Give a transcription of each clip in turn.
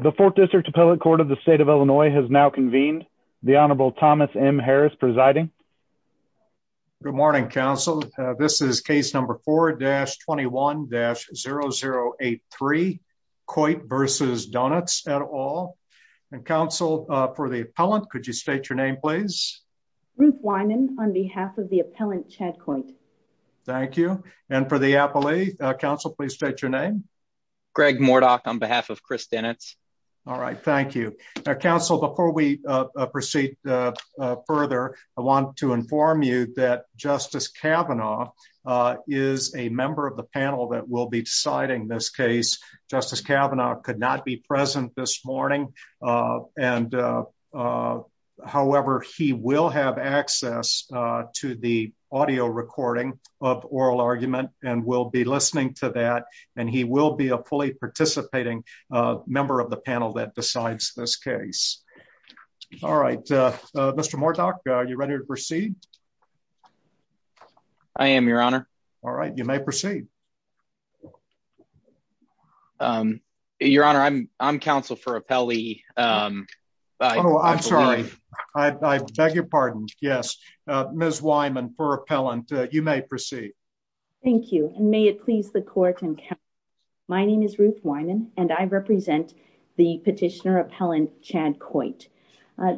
The 4th District Appellate Court of the State of Illinois has now convened. The Honorable Thomas M. Harris presiding. Good morning, counsel. This is case number 4-21-0083, Coit v. Doenitz et al. Counsel, for the appellant, could you state your name, please? Ruth Wyman, on behalf of the appellant, Chad Coit. Thank you. And for the appellee, counsel, please state your name. Greg Mordoch, on behalf of Chris Doenitz. All right. Thank you. Counsel, before we proceed further, I want to inform you that Justice Kavanaugh is a member of the panel that will be deciding this case. Justice Kavanaugh could not be present this morning. However, he will have access to the audio recording of oral argument and will be and he will be a fully participating member of the panel that decides this case. All right. Mr. Mordoch, are you ready to proceed? I am, Your Honor. All right. You may proceed. Your Honor, I'm counsel for appellee. I'm sorry. I beg your pardon. Yes. Ms. Wyman, for appellant, you may proceed. Thank you. And may it please the court and counsel, my name is Ruth Wyman, and I represent the petitioner appellant, Chad Coit.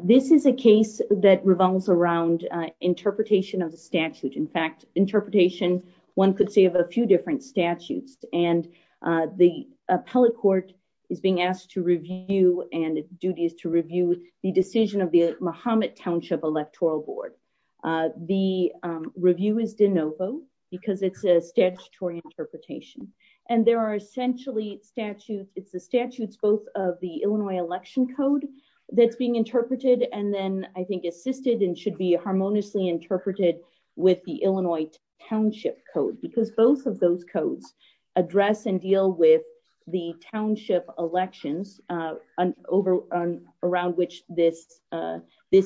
This is a case that revolves around interpretation of the statute. In fact, interpretation, one could say, of a few different statutes. And the appellate court is being asked to review and duty is to review the decision of the Muhammad Township Electoral Board. The review is de novo because it's a statutory interpretation. And there are essentially statutes, it's the statutes, both of the Illinois election code that's being interpreted. And then I think assisted and should be harmoniously interpreted with the Illinois Township Code, because both of those codes address and deal with the township elections around which this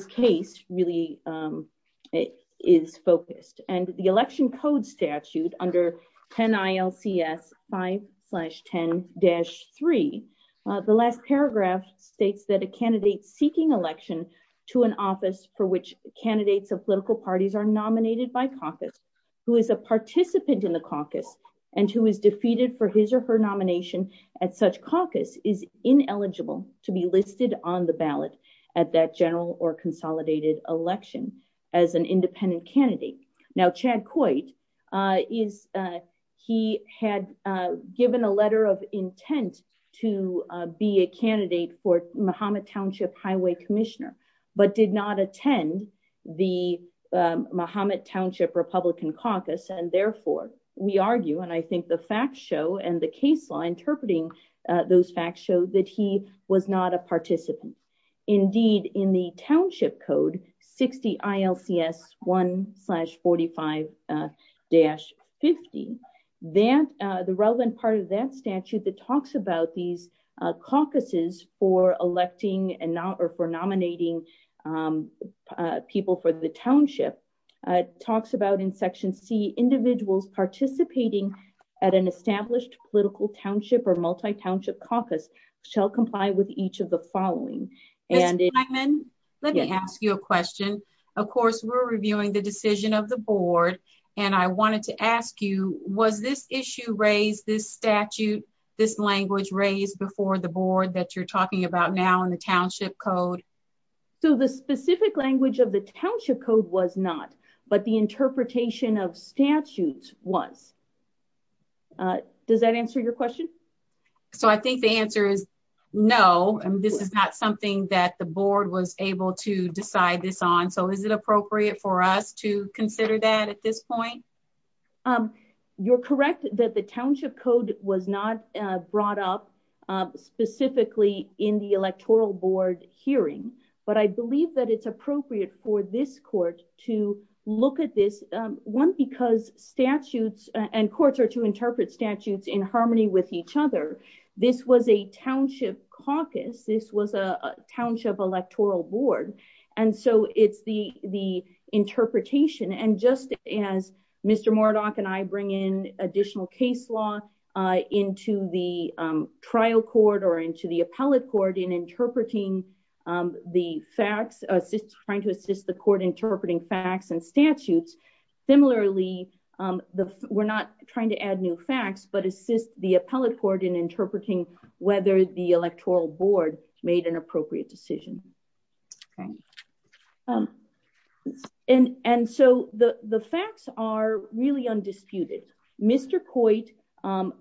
case really is focused. And the election code statute under 10 ILCS 5-10-3, the last paragraph states that a candidate seeking election to an office for which candidates of political parties are nominated by caucus, who is a participant in the such caucus is ineligible to be listed on the ballot at that general or consolidated election as an independent candidate. Now, Chad Coit, he had given a letter of intent to be a candidate for Muhammad Township Highway Commissioner, but did not attend the Muhammad Township Republican Caucus. And therefore, we argue and I think the facts show and the case law interpreting those facts show that he was not a participant. Indeed, in the township code 60 ILCS 1-45-50, the relevant part of that statute that talks about these caucuses for electing and not or nominating people for the township talks about in section C individuals participating at an established political township or multi township caucus shall comply with each of the following. And then let me ask you a question. Of course, we're reviewing the decision of the board. And I wanted to ask you, was this issue raised this statute, this language raised before the So the specific language of the township code was not, but the interpretation of statutes was. Does that answer your question? So I think the answer is, no, this is not something that the board was able to decide this on. So is it appropriate for us to consider that at this point? You're correct that the township code was not brought up specifically in the electoral board hearing. But I believe that it's appropriate for this court to look at this one because statutes and courts are to interpret statutes in harmony with each other. This was a township caucus. This was a township electoral board. And so it's the the interpretation. And just as Mr. Murdoch and I bring in additional case law into the trial court or into the appellate court in interpreting the facts, trying to assist the court interpreting facts and statutes. Similarly, we're not trying to add new facts, but assist the appellate court in interpreting whether the electoral board made an appropriate decision. And so the facts are really undisputed. Mr. Coit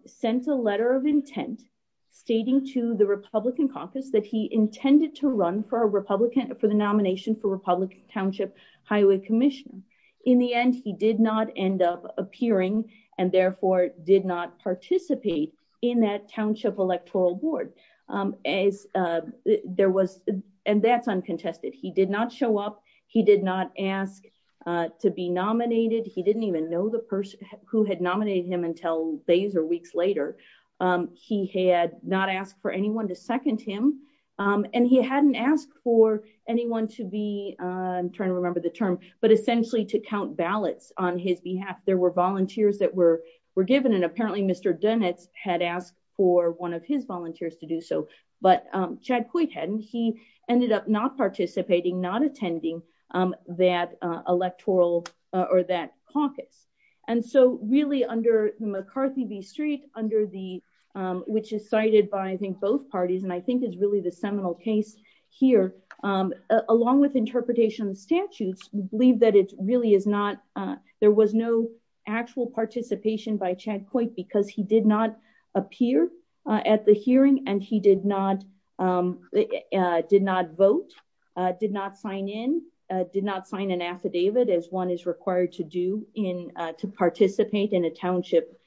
sent a letter of intent, stating to the Republican caucus that he intended to run for a Republican for the nomination for Republican Township Highway Commission. In the end, he did not end up appearing and therefore did not participate in that township electoral board as there was. And that's uncontested. He did not show up. He did not ask to be nominated. He didn't even know the person who had nominated him until days or weeks later. He had not asked for anyone to second him. And he hadn't asked for anyone to be, I'm trying to remember the term, but essentially to count ballots on his behalf. There were volunteers that were given and apparently Mr. Dunitz had asked for one of his volunteers to do so. But Chad Coit hadn't. He ended up not participating, not attending that electoral or that caucus. And so really under McCarthy v. Street, which is cited by, I think, both parties, and I think is really the seminal case here, along with interpretation of the statutes, we believe that there was no actual participation by Chad Coit because he did not sign an affidavit as one is required to do to participate in a township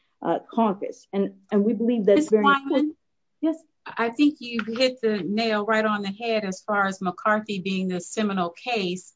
caucus. And we believe that's very important. Yes. I think you've hit the nail right on the head as far as McCarthy being the seminal case.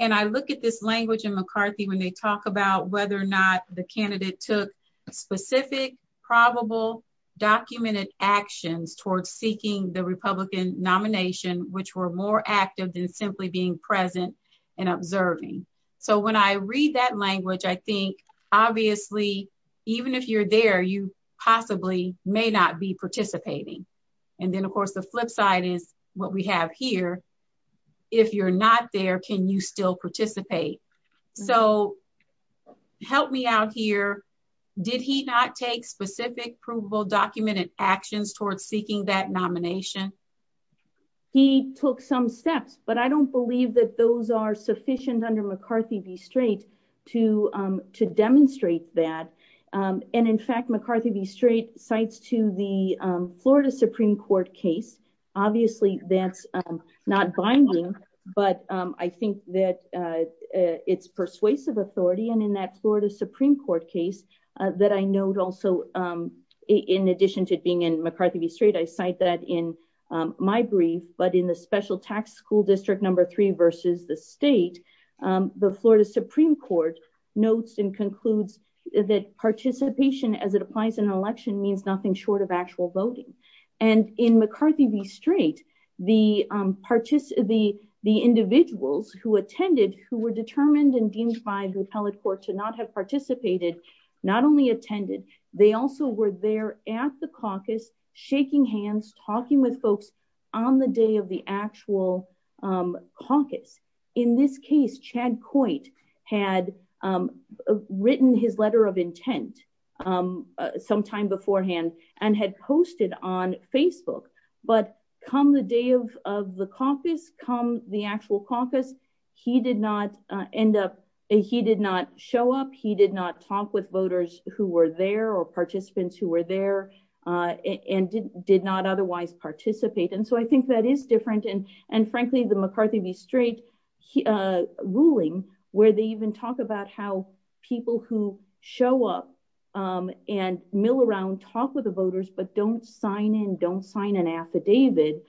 And I look at this language in McCarthy when they talk about whether or not the candidate took specific, probable, documented actions towards seeking the Republican nomination, which were more active than simply being present and observing. So when I read that language, I think, obviously, even if you're there, you possibly may not be participating. And then, of course, the flip side is what we have here. If you're not there, can you still participate? So help me out here. Did he not take specific, provable, documented actions towards seeking that nomination? He took some steps, but I don't believe that those are sufficient under McCarthy v. Strait to demonstrate that. And in fact, McCarthy v. Strait cites to the Florida Supreme Court case. Obviously, that's not binding, but I think that it's persuasive authority. And in that Florida Supreme Court case, that I note also, in addition to being in McCarthy v. Strait, I cite that in my brief, but in the special tax school district number three versus the state, the Florida Supreme Court notes and concludes that participation as it applies in an election means nothing short of actual voting. And in McCarthy v. Strait, the individuals who attended, who were determined and deemed by the appellate court to not have participated, not only attended, they also were there at the caucus shaking hands, talking with folks on the day of the actual caucus. In this case, Chad Coit had written his letter of intent sometime beforehand and had posted on Facebook. But come the day of the caucus, come the actual caucus, he did not end up, he did not show up, he did not talk with voters who were there or participants who were there and did not otherwise participate. And so I think that is different. And frankly, the McCarthy v. Strait ruling, where they even talk about how people who show up and mill around, talk with the voters, but don't sign in, don't sign an affidavit,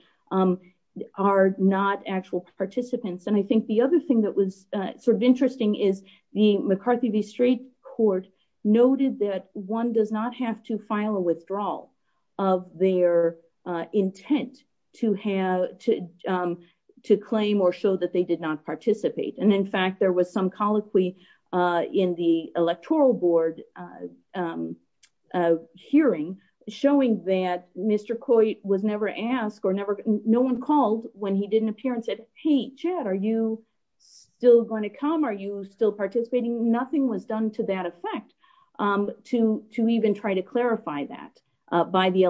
are not actual participants. And I think the other thing that was sort of interesting is the McCarthy v. Strait court noted that one does not have to file a withdrawal of their intent to claim or show that they did not participate. And in fact, there was some colloquy in the electoral board hearing showing that Mr. Coit was never asked, no one called when he didn't appear and said, hey, Chad, are you still going to come? Are you still participating? Nothing was done to that effect, to even try to clarify that by the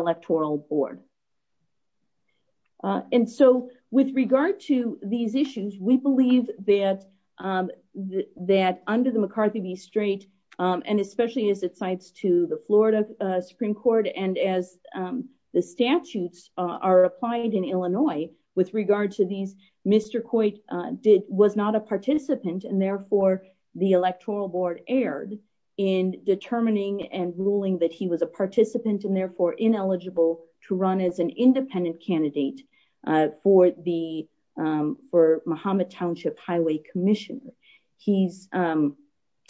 that under the McCarthy v. Strait, and especially as it cites to the Florida Supreme Court and as the statutes are applied in Illinois, with regard to these, Mr. Coit was not a participant and therefore the electoral board erred in determining and ruling that he was a participant and therefore ineligible to run as an independent candidate for the, for Mahomet Township Highway Commission. He's,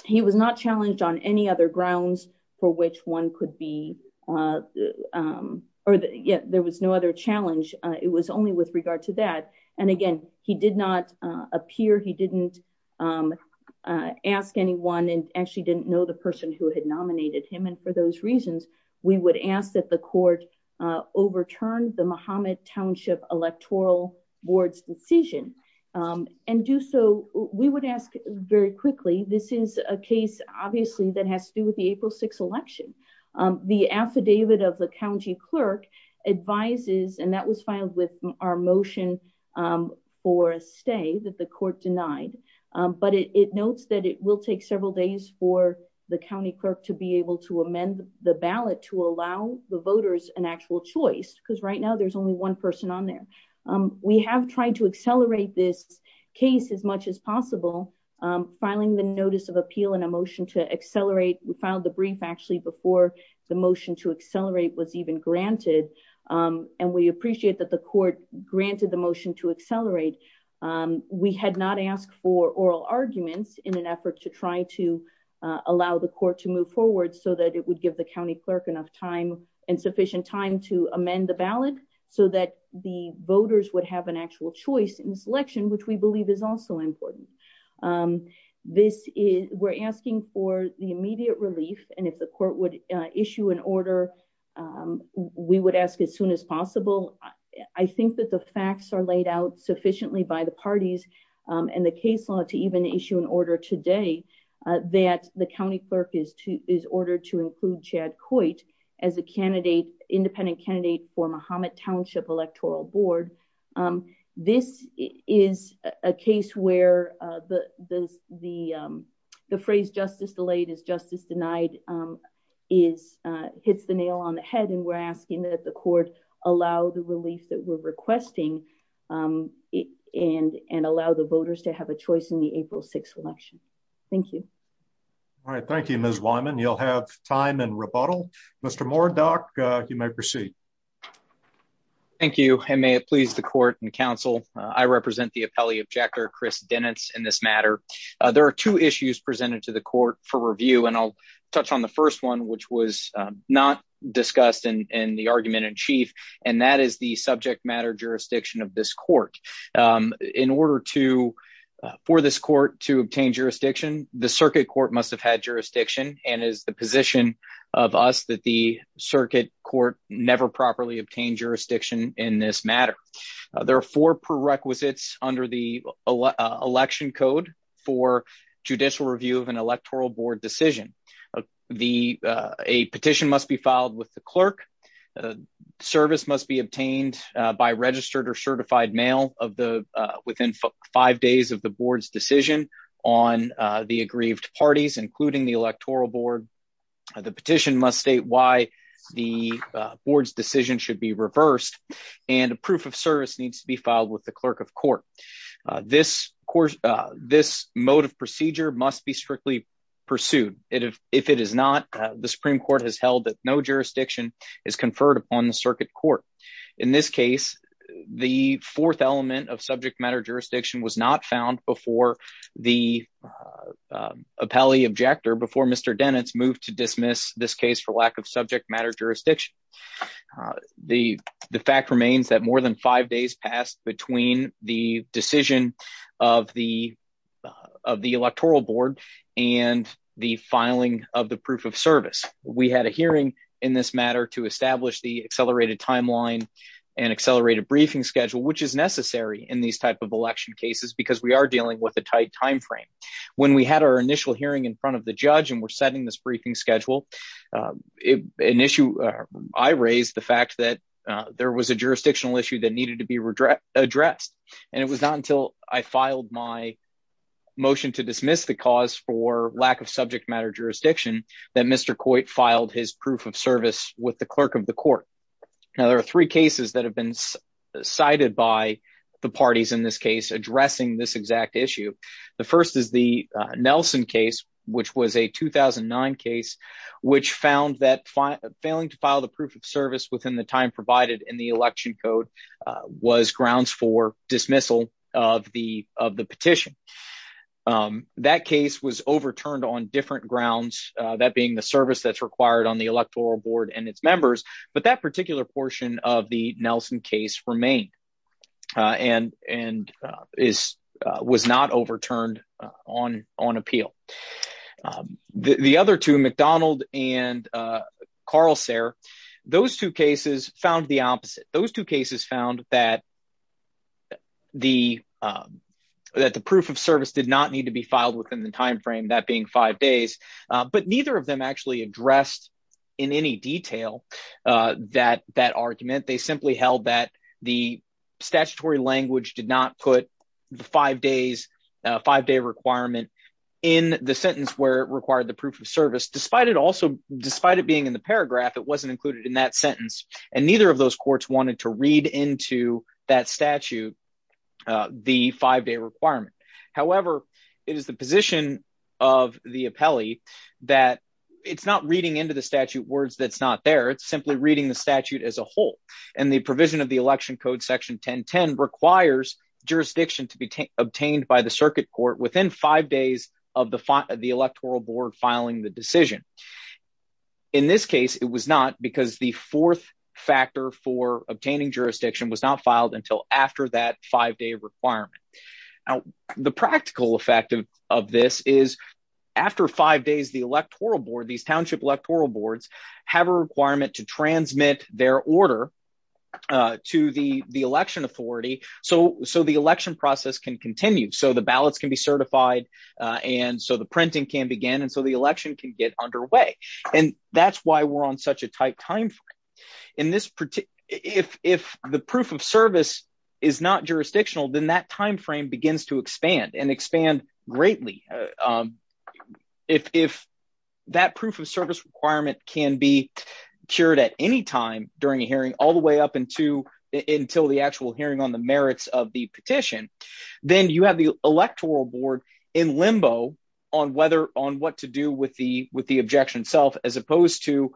he was not challenged on any other grounds for which one could be, or there was no other challenge. It was only with regard to that. And again, he did not appear, he didn't ask anyone and actually didn't know the person who had nominated him. And for those reasons, we would ask that the court overturned the Mahomet Township Electoral Board's decision and do so, we would ask very quickly. This is a case obviously that has to do with the April 6th election. The affidavit of the county clerk advises, and that was filed with our motion for a stay that the court denied. But it notes that it will take several days for the county clerk to be able to amend the ballot to allow the voters an actual choice, because right now there's only one person on there. We have tried to accelerate this case as much as possible, filing the notice of appeal and a motion to accelerate. We filed the brief actually before the motion to accelerate was even granted. And we appreciate that the court granted the motion to accelerate. We had not asked for oral arguments in an effort to try to allow the court to move forward so that it would give the county clerk enough time and sufficient time to amend the ballot so that the voters would have an actual choice in selection, which we believe is also important. We're asking for the immediate relief, and if the court would issue an order, we would ask as soon as possible. I think that the facts are laid out sufficiently by the parties and the case law to even issue an order today that the county clerk is ordered to include Chad as a candidate, independent candidate for Mohammed Township Electoral Board. This is a case where the phrase justice delayed is justice denied is hits the nail on the head. And we're asking that the court allow the relief that we're requesting it and and allow the voters to have a choice in the Mr. Moore. Doc, you may proceed. Thank you. And may it please the court and council. I represent the appellee of Jekyll Chris Dennis. In this matter, there are two issues presented to the court for review, and I'll touch on the first one, which was not discussed in the argument in chief, and that is the subject matter jurisdiction of this court. In order to for this court to obtain jurisdiction, the circuit court must have had jurisdiction and is the position of us that the circuit court never properly obtained jurisdiction in this matter. There are four prerequisites under the election code for judicial review of an electoral board decision. The a petition must be filed with the clerk. Service must be obtained by registered or the aggrieved parties, including the electoral board. The petition must state why the board's decision should be reversed, and a proof of service needs to be filed with the clerk of court. This course, this mode of procedure must be strictly pursued. If it is not, the Supreme Court has held that no jurisdiction is conferred upon the circuit court. In this case, the fourth appellee objector before Mr. Dennett's moved to dismiss this case for lack of subject matter jurisdiction. The fact remains that more than five days passed between the decision of the electoral board and the filing of the proof of service. We had a hearing in this matter to establish the accelerated timeline and accelerated briefing schedule, which is necessary in these election cases because we are dealing with a tight time frame. When we had our initial hearing in front of the judge and were setting this briefing schedule, I raised the fact that there was a jurisdictional issue that needed to be addressed, and it was not until I filed my motion to dismiss the cause for lack of subject matter jurisdiction that Mr. Coit filed his proof of service with the clerk of the court. Now, there are three cases that have been cited by the parties in this case addressing this exact issue. The first is the Nelson case, which was a 2009 case, which found that failing to file the proof of service within the time provided in the election code was grounds for dismissal of the petition. That case was overturned on different grounds, that being the service that's required on the electoral board and its remain, and was not overturned on appeal. The other two, McDonald and Carl Sare, those two cases found the opposite. Those two cases found that the proof of service did not need to be filed within the time frame, that being five days, but neither of them actually addressed in any detail that argument. They simply held that the statutory language did not put the five-day requirement in the sentence where it required the proof of service, despite it being in the paragraph. It wasn't included in that sentence, and neither of those courts wanted to read into that statute the five-day requirement. However, it is the position of the appellee that it's not reading into the statute words that's not there, it's simply reading the statute as a whole. The provision of the election code section 1010 requires jurisdiction to be obtained by the circuit court within five days of the electoral board filing the decision. In this case, it was not because the fourth factor for obtaining jurisdiction was not filed until after that five-day requirement. The practical effect of this is after five days, these township electoral boards have a requirement to transmit their order to the election authority so the election process can continue, so the ballots can be certified, and so the printing can begin, and so the election can get underway. That's why we're on such a tight time frame. If the proof of service is not jurisdictional, then that time begins to expand and expand greatly. If that proof of service requirement can be cured at any time during a hearing all the way up until the actual hearing on the merits of the petition, then you have the electoral board in limbo on what to do with the objection itself as opposed to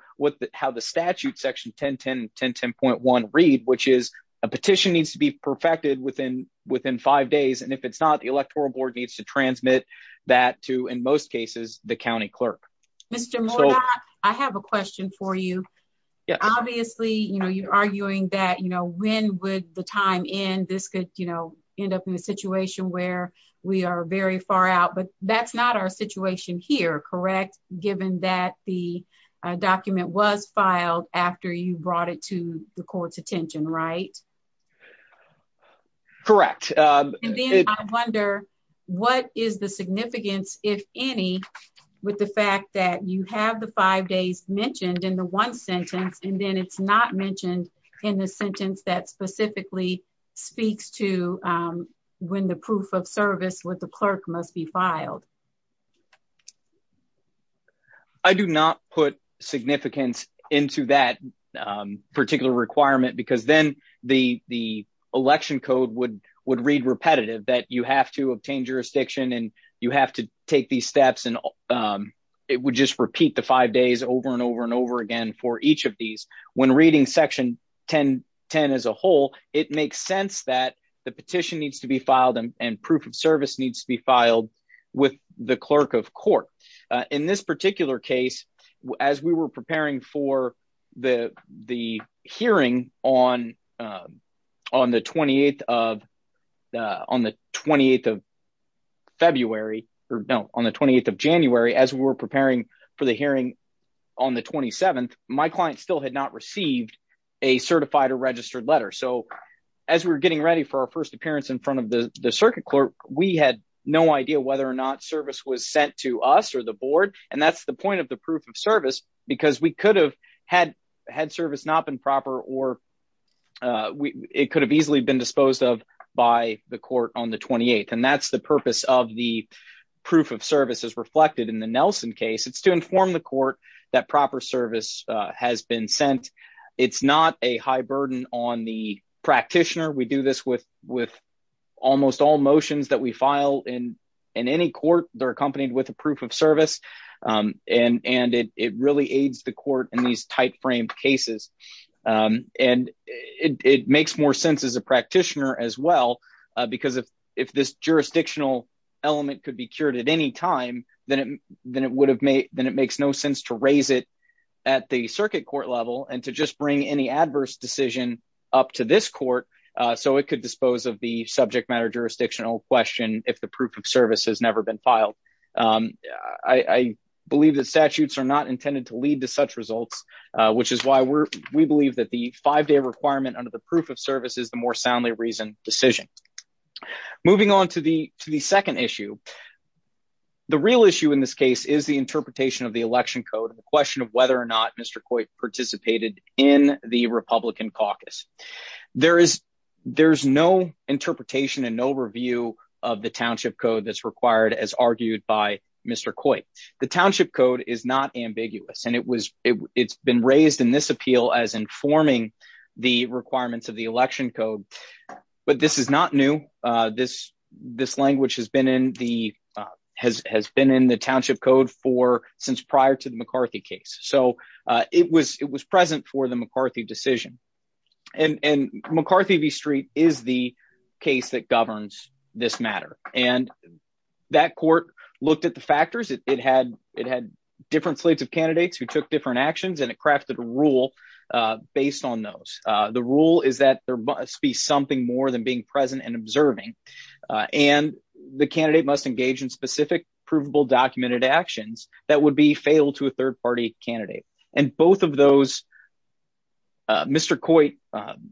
how the statute section 1010 and 1010.1 read, which is a petition needs to be perfected within five days, and if it's not, the electoral board needs to transmit that to, in most cases, the county clerk. Mr. Mourad, I have a question for you. Obviously, you know, you're arguing that, you know, when would the time end? This could, you know, end up in a situation where we are very far out, but that's not our situation here, correct, given that the court's attention, right? Correct. I wonder what is the significance, if any, with the fact that you have the five days mentioned in the one sentence, and then it's not mentioned in the sentence that specifically speaks to when the proof of service with the clerk must be filed. I do not put significance into that particular requirement, because then the election code would read repetitive that you have to obtain jurisdiction, and you have to take these steps, and it would just repeat the five days over and over and over again for each of these. When reading section 1010 as a whole, it makes sense that the petition needs to be filed and proof of service needs to be filed with the clerk of court. In this particular case, as we were preparing for the hearing on the 28th of February, or no, on the 28th of January, as we were preparing for the hearing on the 27th, my client still had not received a certified or registered letter. So, as we were getting ready for our first appearance in front of the circuit clerk, we had no idea whether or not service was sent to us or the board, and that's the point of the proof of service, because we could have had service not been proper, or it could have easily been disposed of by the court on the 28th, and that's the purpose of the proof of service as reflected in the Nelson case. It's to inform the court that proper service has been sent. It's not a high burden on the practitioner. We do this with almost all motions that we file in any court. They're accompanied with a proof of service, and it really aids the court in these tight-framed cases, and it makes more sense as a practitioner as well, because if this jurisdictional element could be cured at any time, then it makes no sense to raise it at the circuit court level and to just bring any adverse decision up to this court so it could dispose of the subject matter jurisdictional question if the proof of service has never been filed. I believe that statutes are not intended to lead to such results, which is why we believe that the five-day requirement under the proof of service is the more soundly reasoned decision. Moving on to the second issue, the real issue in this case is the interpretation of the election code, the question of whether or not Mr. Coit participated in the Republican caucus. There is no interpretation and no review of the township code that's required as argued by Mr. Coit. The township code is not ambiguous, and it's been raised in this appeal as informing the requirements of the election code, but this is not new. This language has been in the township code since prior to the McCarthy case, so it was it was present for the McCarthy decision, and McCarthy v. Street is the case that governs this matter, and that court looked at the factors. It had different slates of candidates who took different actions, and it crafted a rule based on those. The rule is that there must be something more than being present and observing, and the candidate must engage in specific provable documented actions that would be fatal to a third-party candidate, and Mr. Coit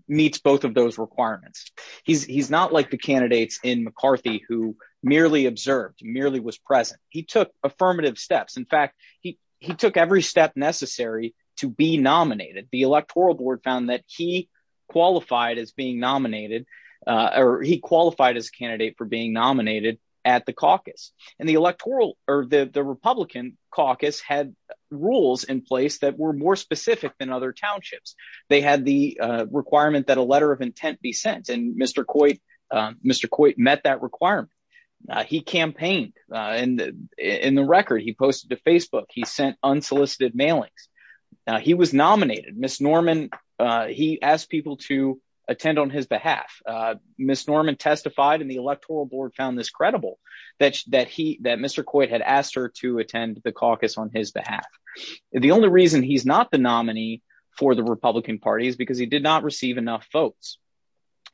meets both of those requirements. He's not like the candidates in McCarthy who merely observed, merely was present. He took affirmative steps. In fact, he took every step necessary to be nominated. The electoral board found that he qualified as a candidate for being nominated at the caucus, and the Republican caucus had rules in place that were more specific than other townships. They had the requirement that a letter of intent be sent, and Mr. Coit met that requirement. He campaigned in the record. He posted to Facebook. He sent unsolicited mailings. He was nominated. He asked people to attend on his behalf. Ms. Norman testified, and the electoral board found this credible that Mr. Coit had asked her to attend the caucus on his behalf. The only reason he's not the nominee for the Republican party is because he did not receive enough votes,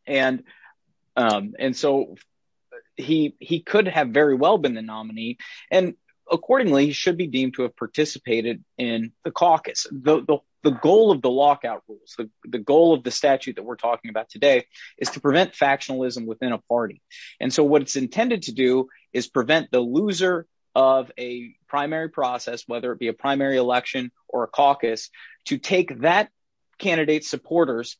and so he could have very well been the nominee, and accordingly, he should be deemed to have participated in the caucus. The goal of the factionalism within a party. What it's intended to do is prevent the loser of a primary process, whether it be a primary election or a caucus, to take that candidate's supporters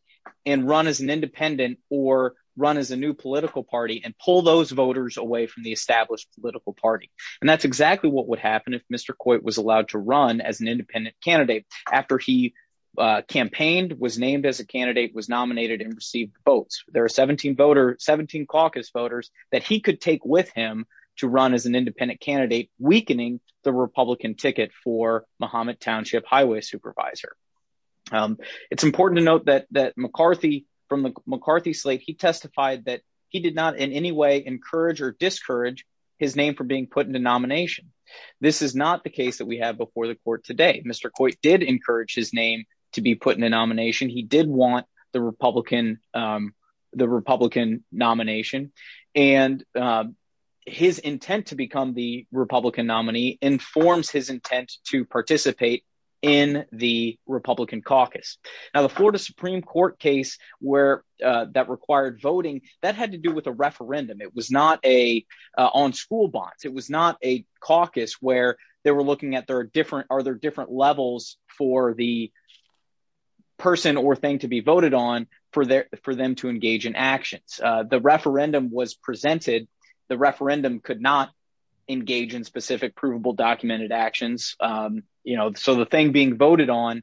and run as an independent or run as a new political party and pull those voters away from the established political party. That's exactly what would happen if Mr. Coit was allowed to run as an independent candidate after he campaigned, was named as a candidate, was nominated, and received votes. There are 17 voters, 17 caucus voters that he could take with him to run as an independent candidate, weakening the Republican ticket for Muhammad Township Highway Supervisor. It's important to note that McCarthy, from the McCarthy slate, he testified that he did not in any way encourage or discourage his name from being put into nomination. This is not the case that we have before the court today. Mr. Coit did encourage his name to be put into nomination. He did want the Republican nomination. His intent to become the Republican nominee informs his intent to participate in the Republican caucus. The Florida Supreme Court case that required voting, that had to do with a referendum. It was not on school bonds. It was not a caucus where they were are there different levels for the person or thing to be voted on for them to engage in actions. The referendum was presented. The referendum could not engage in specific provable documented actions. The thing being voted on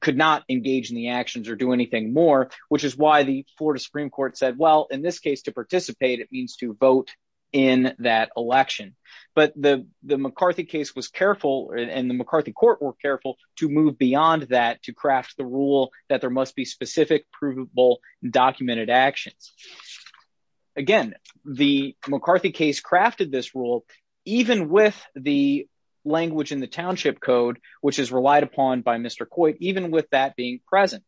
could not engage in the actions or do anything more, which is why the Florida Supreme Court said, well, in this case, to participate, it means to vote in that election. But the McCarthy case was careful and the McCarthy court were careful to move beyond that to craft the rule that there must be specific provable documented actions. Again, the McCarthy case crafted this rule, even with the language in the Township Code, which is relied upon by Mr. Coit, even with that being present.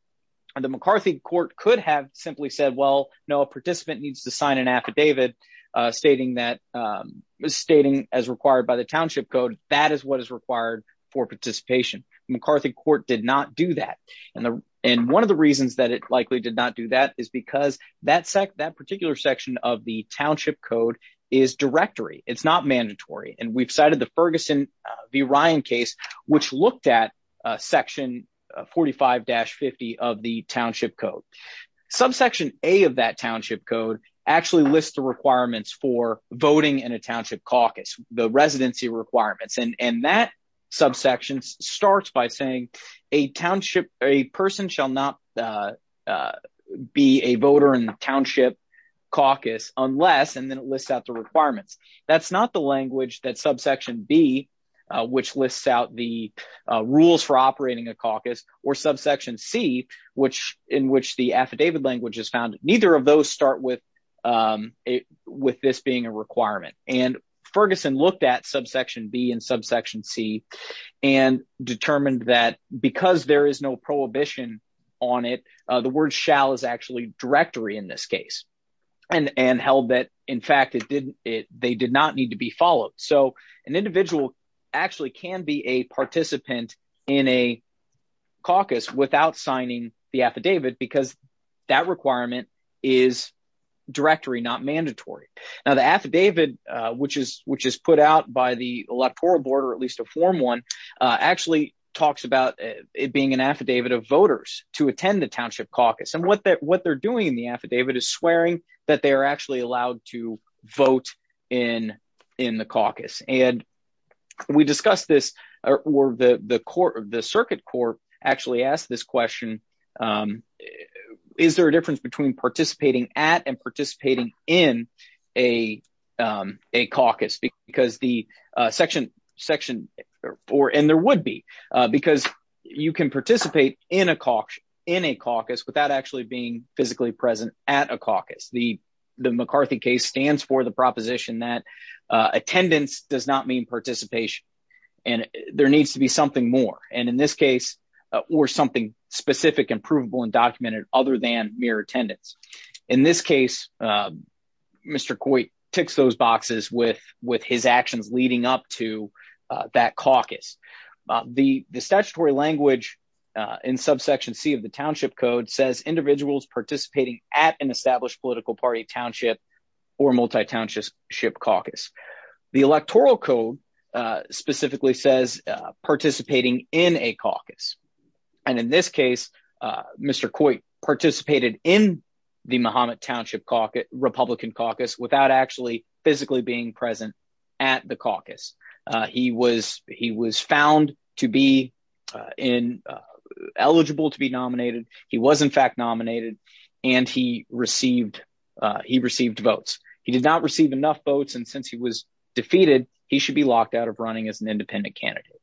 The McCarthy court could have simply said, well, no, a participant needs to sign an affidavit stating that was stating as required by the Township Code. That is what is required for participation. McCarthy court did not do that. And and one of the reasons that it likely did not do that is because that that particular section of the Township Code is directory. It's not mandatory. And we've cited the Ferguson v. Ryan case, which looked at Section 45-50 of the Township Code. Subsection A of that Township Code actually lists the requirements for voting in a township caucus, the residency requirements. And that subsection starts by saying a township, a person shall not be a voter in the township caucus unless and then it lists out the requirements. That's not the language that subsection B, which lists out the rules for operating a caucus, or subsection C, which in which the affidavit language is found. Neither of those start with this being a requirement. And Ferguson looked at subsection B and subsection C and determined that because there is no prohibition on it, the word shall is actually directory in this case and and held that in fact it didn't it they did not need to be followed. So an individual actually can be a participant in a caucus without signing the affidavit because that requirement is directory, not mandatory. Now the affidavit, which is which is put out by the electoral board, or at least a form one, actually talks about it being an affidavit of voters to in the affidavit is swearing that they are actually allowed to vote in in the caucus. And we discussed this or the the court of the circuit court actually asked this question, is there a difference between participating at and participating in a a caucus because the section section or and there would be because you can participate in a caucus in a caucus without actually being physically present at a caucus. The McCarthy case stands for the proposition that attendance does not mean participation. And there needs to be something more. And in this case, or something specific and provable and documented other than mere attendance. In this case, Mr. Coit ticks those boxes with with his actions leading up to that caucus. The the statutory language in subsection c of the township code says individuals participating at an established political party township, or multi township caucus. The electoral code specifically says participating in a caucus. And in this case, Mr. Coit participated in the Muhammad township caucus, Republican caucus without actually physically being present at the found to be in eligible to be nominated. He was in fact nominated. And he received, he received votes, he did not receive enough votes. And since he was defeated, he should be locked out of running as an independent candidate.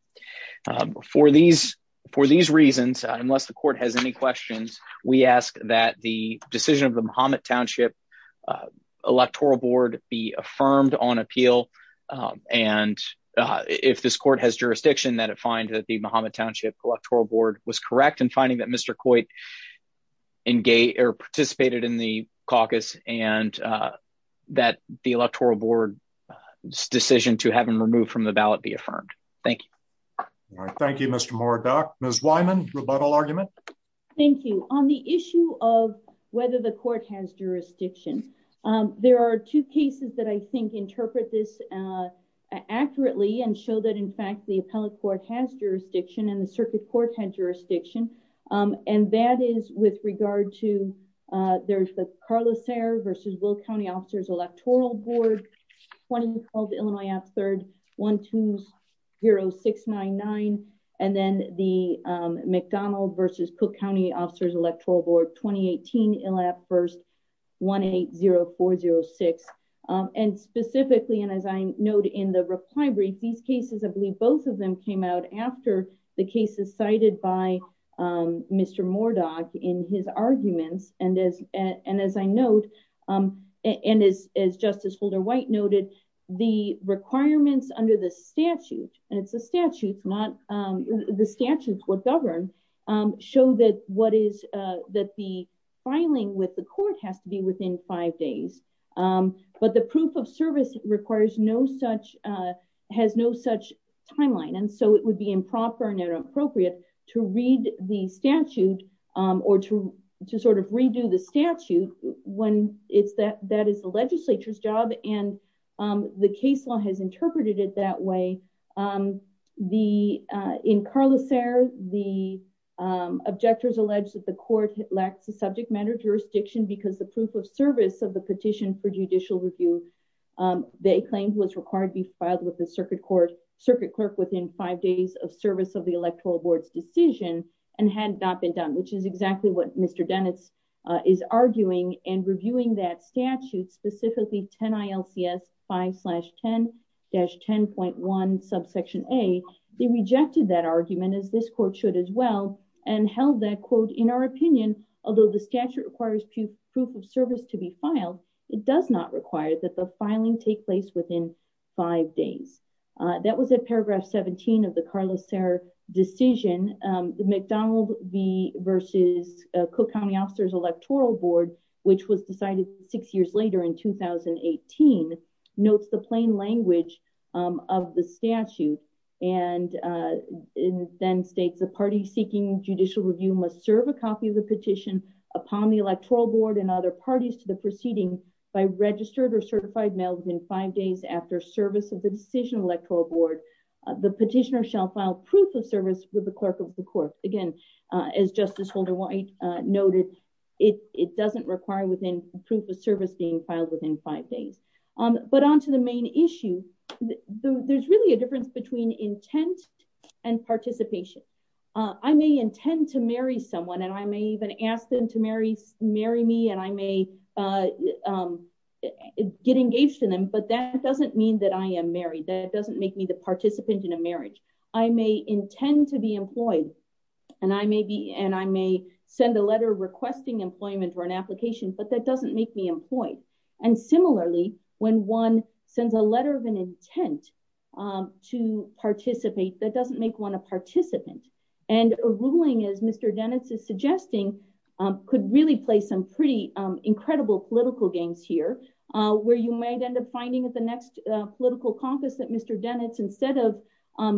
For these, for these reasons, unless the court has any questions, we ask that the decision of the Muhammad township electoral board be affirmed on appeal. And if this has jurisdiction that it find that the Muhammad township electoral board was correct in finding that Mr. Coit engage or participated in the caucus, and that the electoral board decision to have him removed from the ballot be affirmed. Thank you. Thank you, Mr. Moore. Doc, Ms. Wyman rebuttal argument. Thank you on the issue of whether the court has jurisdiction. There are two cases that I think interpret this accurately and show that in fact, the appellate court has jurisdiction and the circuit court had jurisdiction. And that is with regard to there's the Carlos air versus will county officers electoral board, one called Illinois at third 120699. And then the McDonald versus Cook County officers electoral board 2018. In lab first 180406. And specifically, and as I note in the reply brief, these cases, I believe both of them came out after the cases cited by Mr. Mordock in his arguments. And as and as I note, and as as Justice Holder white noted, the requirements under the statute, and it's a statute, not the statutes would govern, show that what is that the filing with the court has to be within five days. But the proof of service requires no such has no such timeline. And so it would be improper and inappropriate to read the statute, or to to sort of redo the statute when it's that that is the legislature's job. And the case law has the in Carlos air, the objectors alleged that the court lacks a subject matter jurisdiction, because the proof of service of the petition for judicial review, they claimed was required to be filed with the circuit court circuit clerk within five days of service of the electoral board's decision and had not been done, which is exactly what Mr. Dennis is arguing and reviewing that specifically 10 ILCS five slash 10 dash 10.1 subsection a, they rejected that argument as this court should as well, and held that quote, in our opinion, although the statute requires proof of service to be filed, it does not require that the filing take place within five days. That was a paragraph 17 of the Carlos air decision, the McDonald v versus Cook County officers electoral board, which was decided six years later in 2018, notes the plain language of the statute, and then states a party seeking judicial review must serve a copy of the petition upon the electoral board and other parties to the proceeding by registered or certified males in five days after service of the decision electoral board, the petitioner shall file proof of service with the clerk of the court. Again, as Justice Holder white noted, it doesn't require within proof of service being filed within five days. But on to the main issue, there's really a difference between intent and participation. I may intend to marry someone and I may even ask them to marry, marry me and I may get engaged in them. But that doesn't mean that I am married, that doesn't make me the participant in a marriage, I may intend to be employed. And I may be and I may send a letter requesting employment or an application, but that doesn't make me employed. And similarly, when one sends a letter of an intent to participate, that doesn't make one a participant. And ruling as Mr. Dennis is suggesting, could really play some pretty political games here, where you might end up finding at the next political caucus that Mr. Dennett's instead of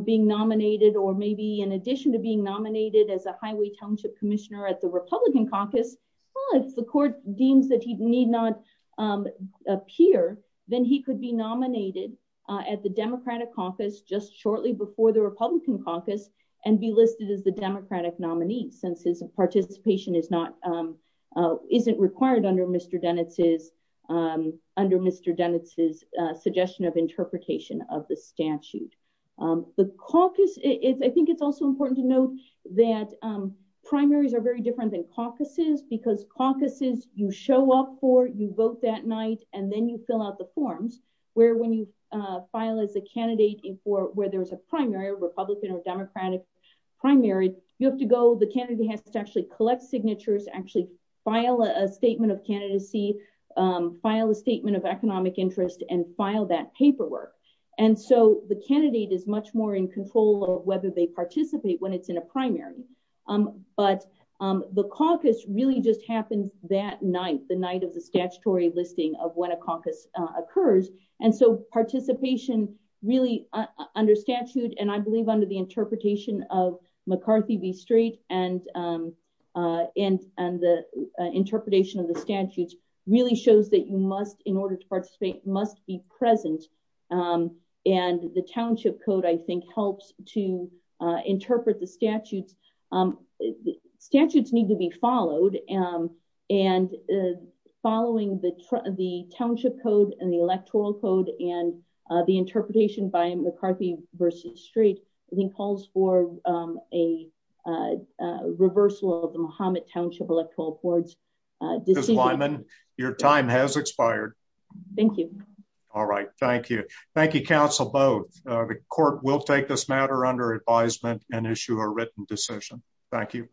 being nominated, or maybe in addition to being nominated as a highway township commissioner at the Republican caucus, the court deems that he need not appear, then he could be nominated at the Democratic caucus just shortly before the Republican caucus and be listed as the Mr. Dennett's, under Mr. Dennett's suggestion of interpretation of the statute. The caucus, I think it's also important to note that primaries are very different than caucuses, because caucuses you show up for, you vote that night, and then you fill out the forms, where when you file as a candidate for where there's a primary Republican or Democratic primary, you have to go, the candidate has to actually collect signatures, actually file a statement of candidacy, file a statement of economic interest and file that paperwork. And so the candidate is much more in control of whether they participate when it's in a primary. But the caucus really just happens that night, the night of the statutory listing of when a caucus occurs. And so participation, really, under statute, and I believe under the interpretation of McCarthy v. Strait, and the interpretation of the statutes really shows that you must, in order to participate, must be present. And the Township Code, I think, helps to interpret the statutes. Statutes need to be followed. And following the Township Code and Electoral Code, and the interpretation by McCarthy v. Strait, I think calls for a reversal of the Muhammad Township Electoral Court's decision. Ms. Wyman, your time has expired. Thank you. All right. Thank you. Thank you, counsel both. The court will take this matter under advisement and issue a written decision. Thank you.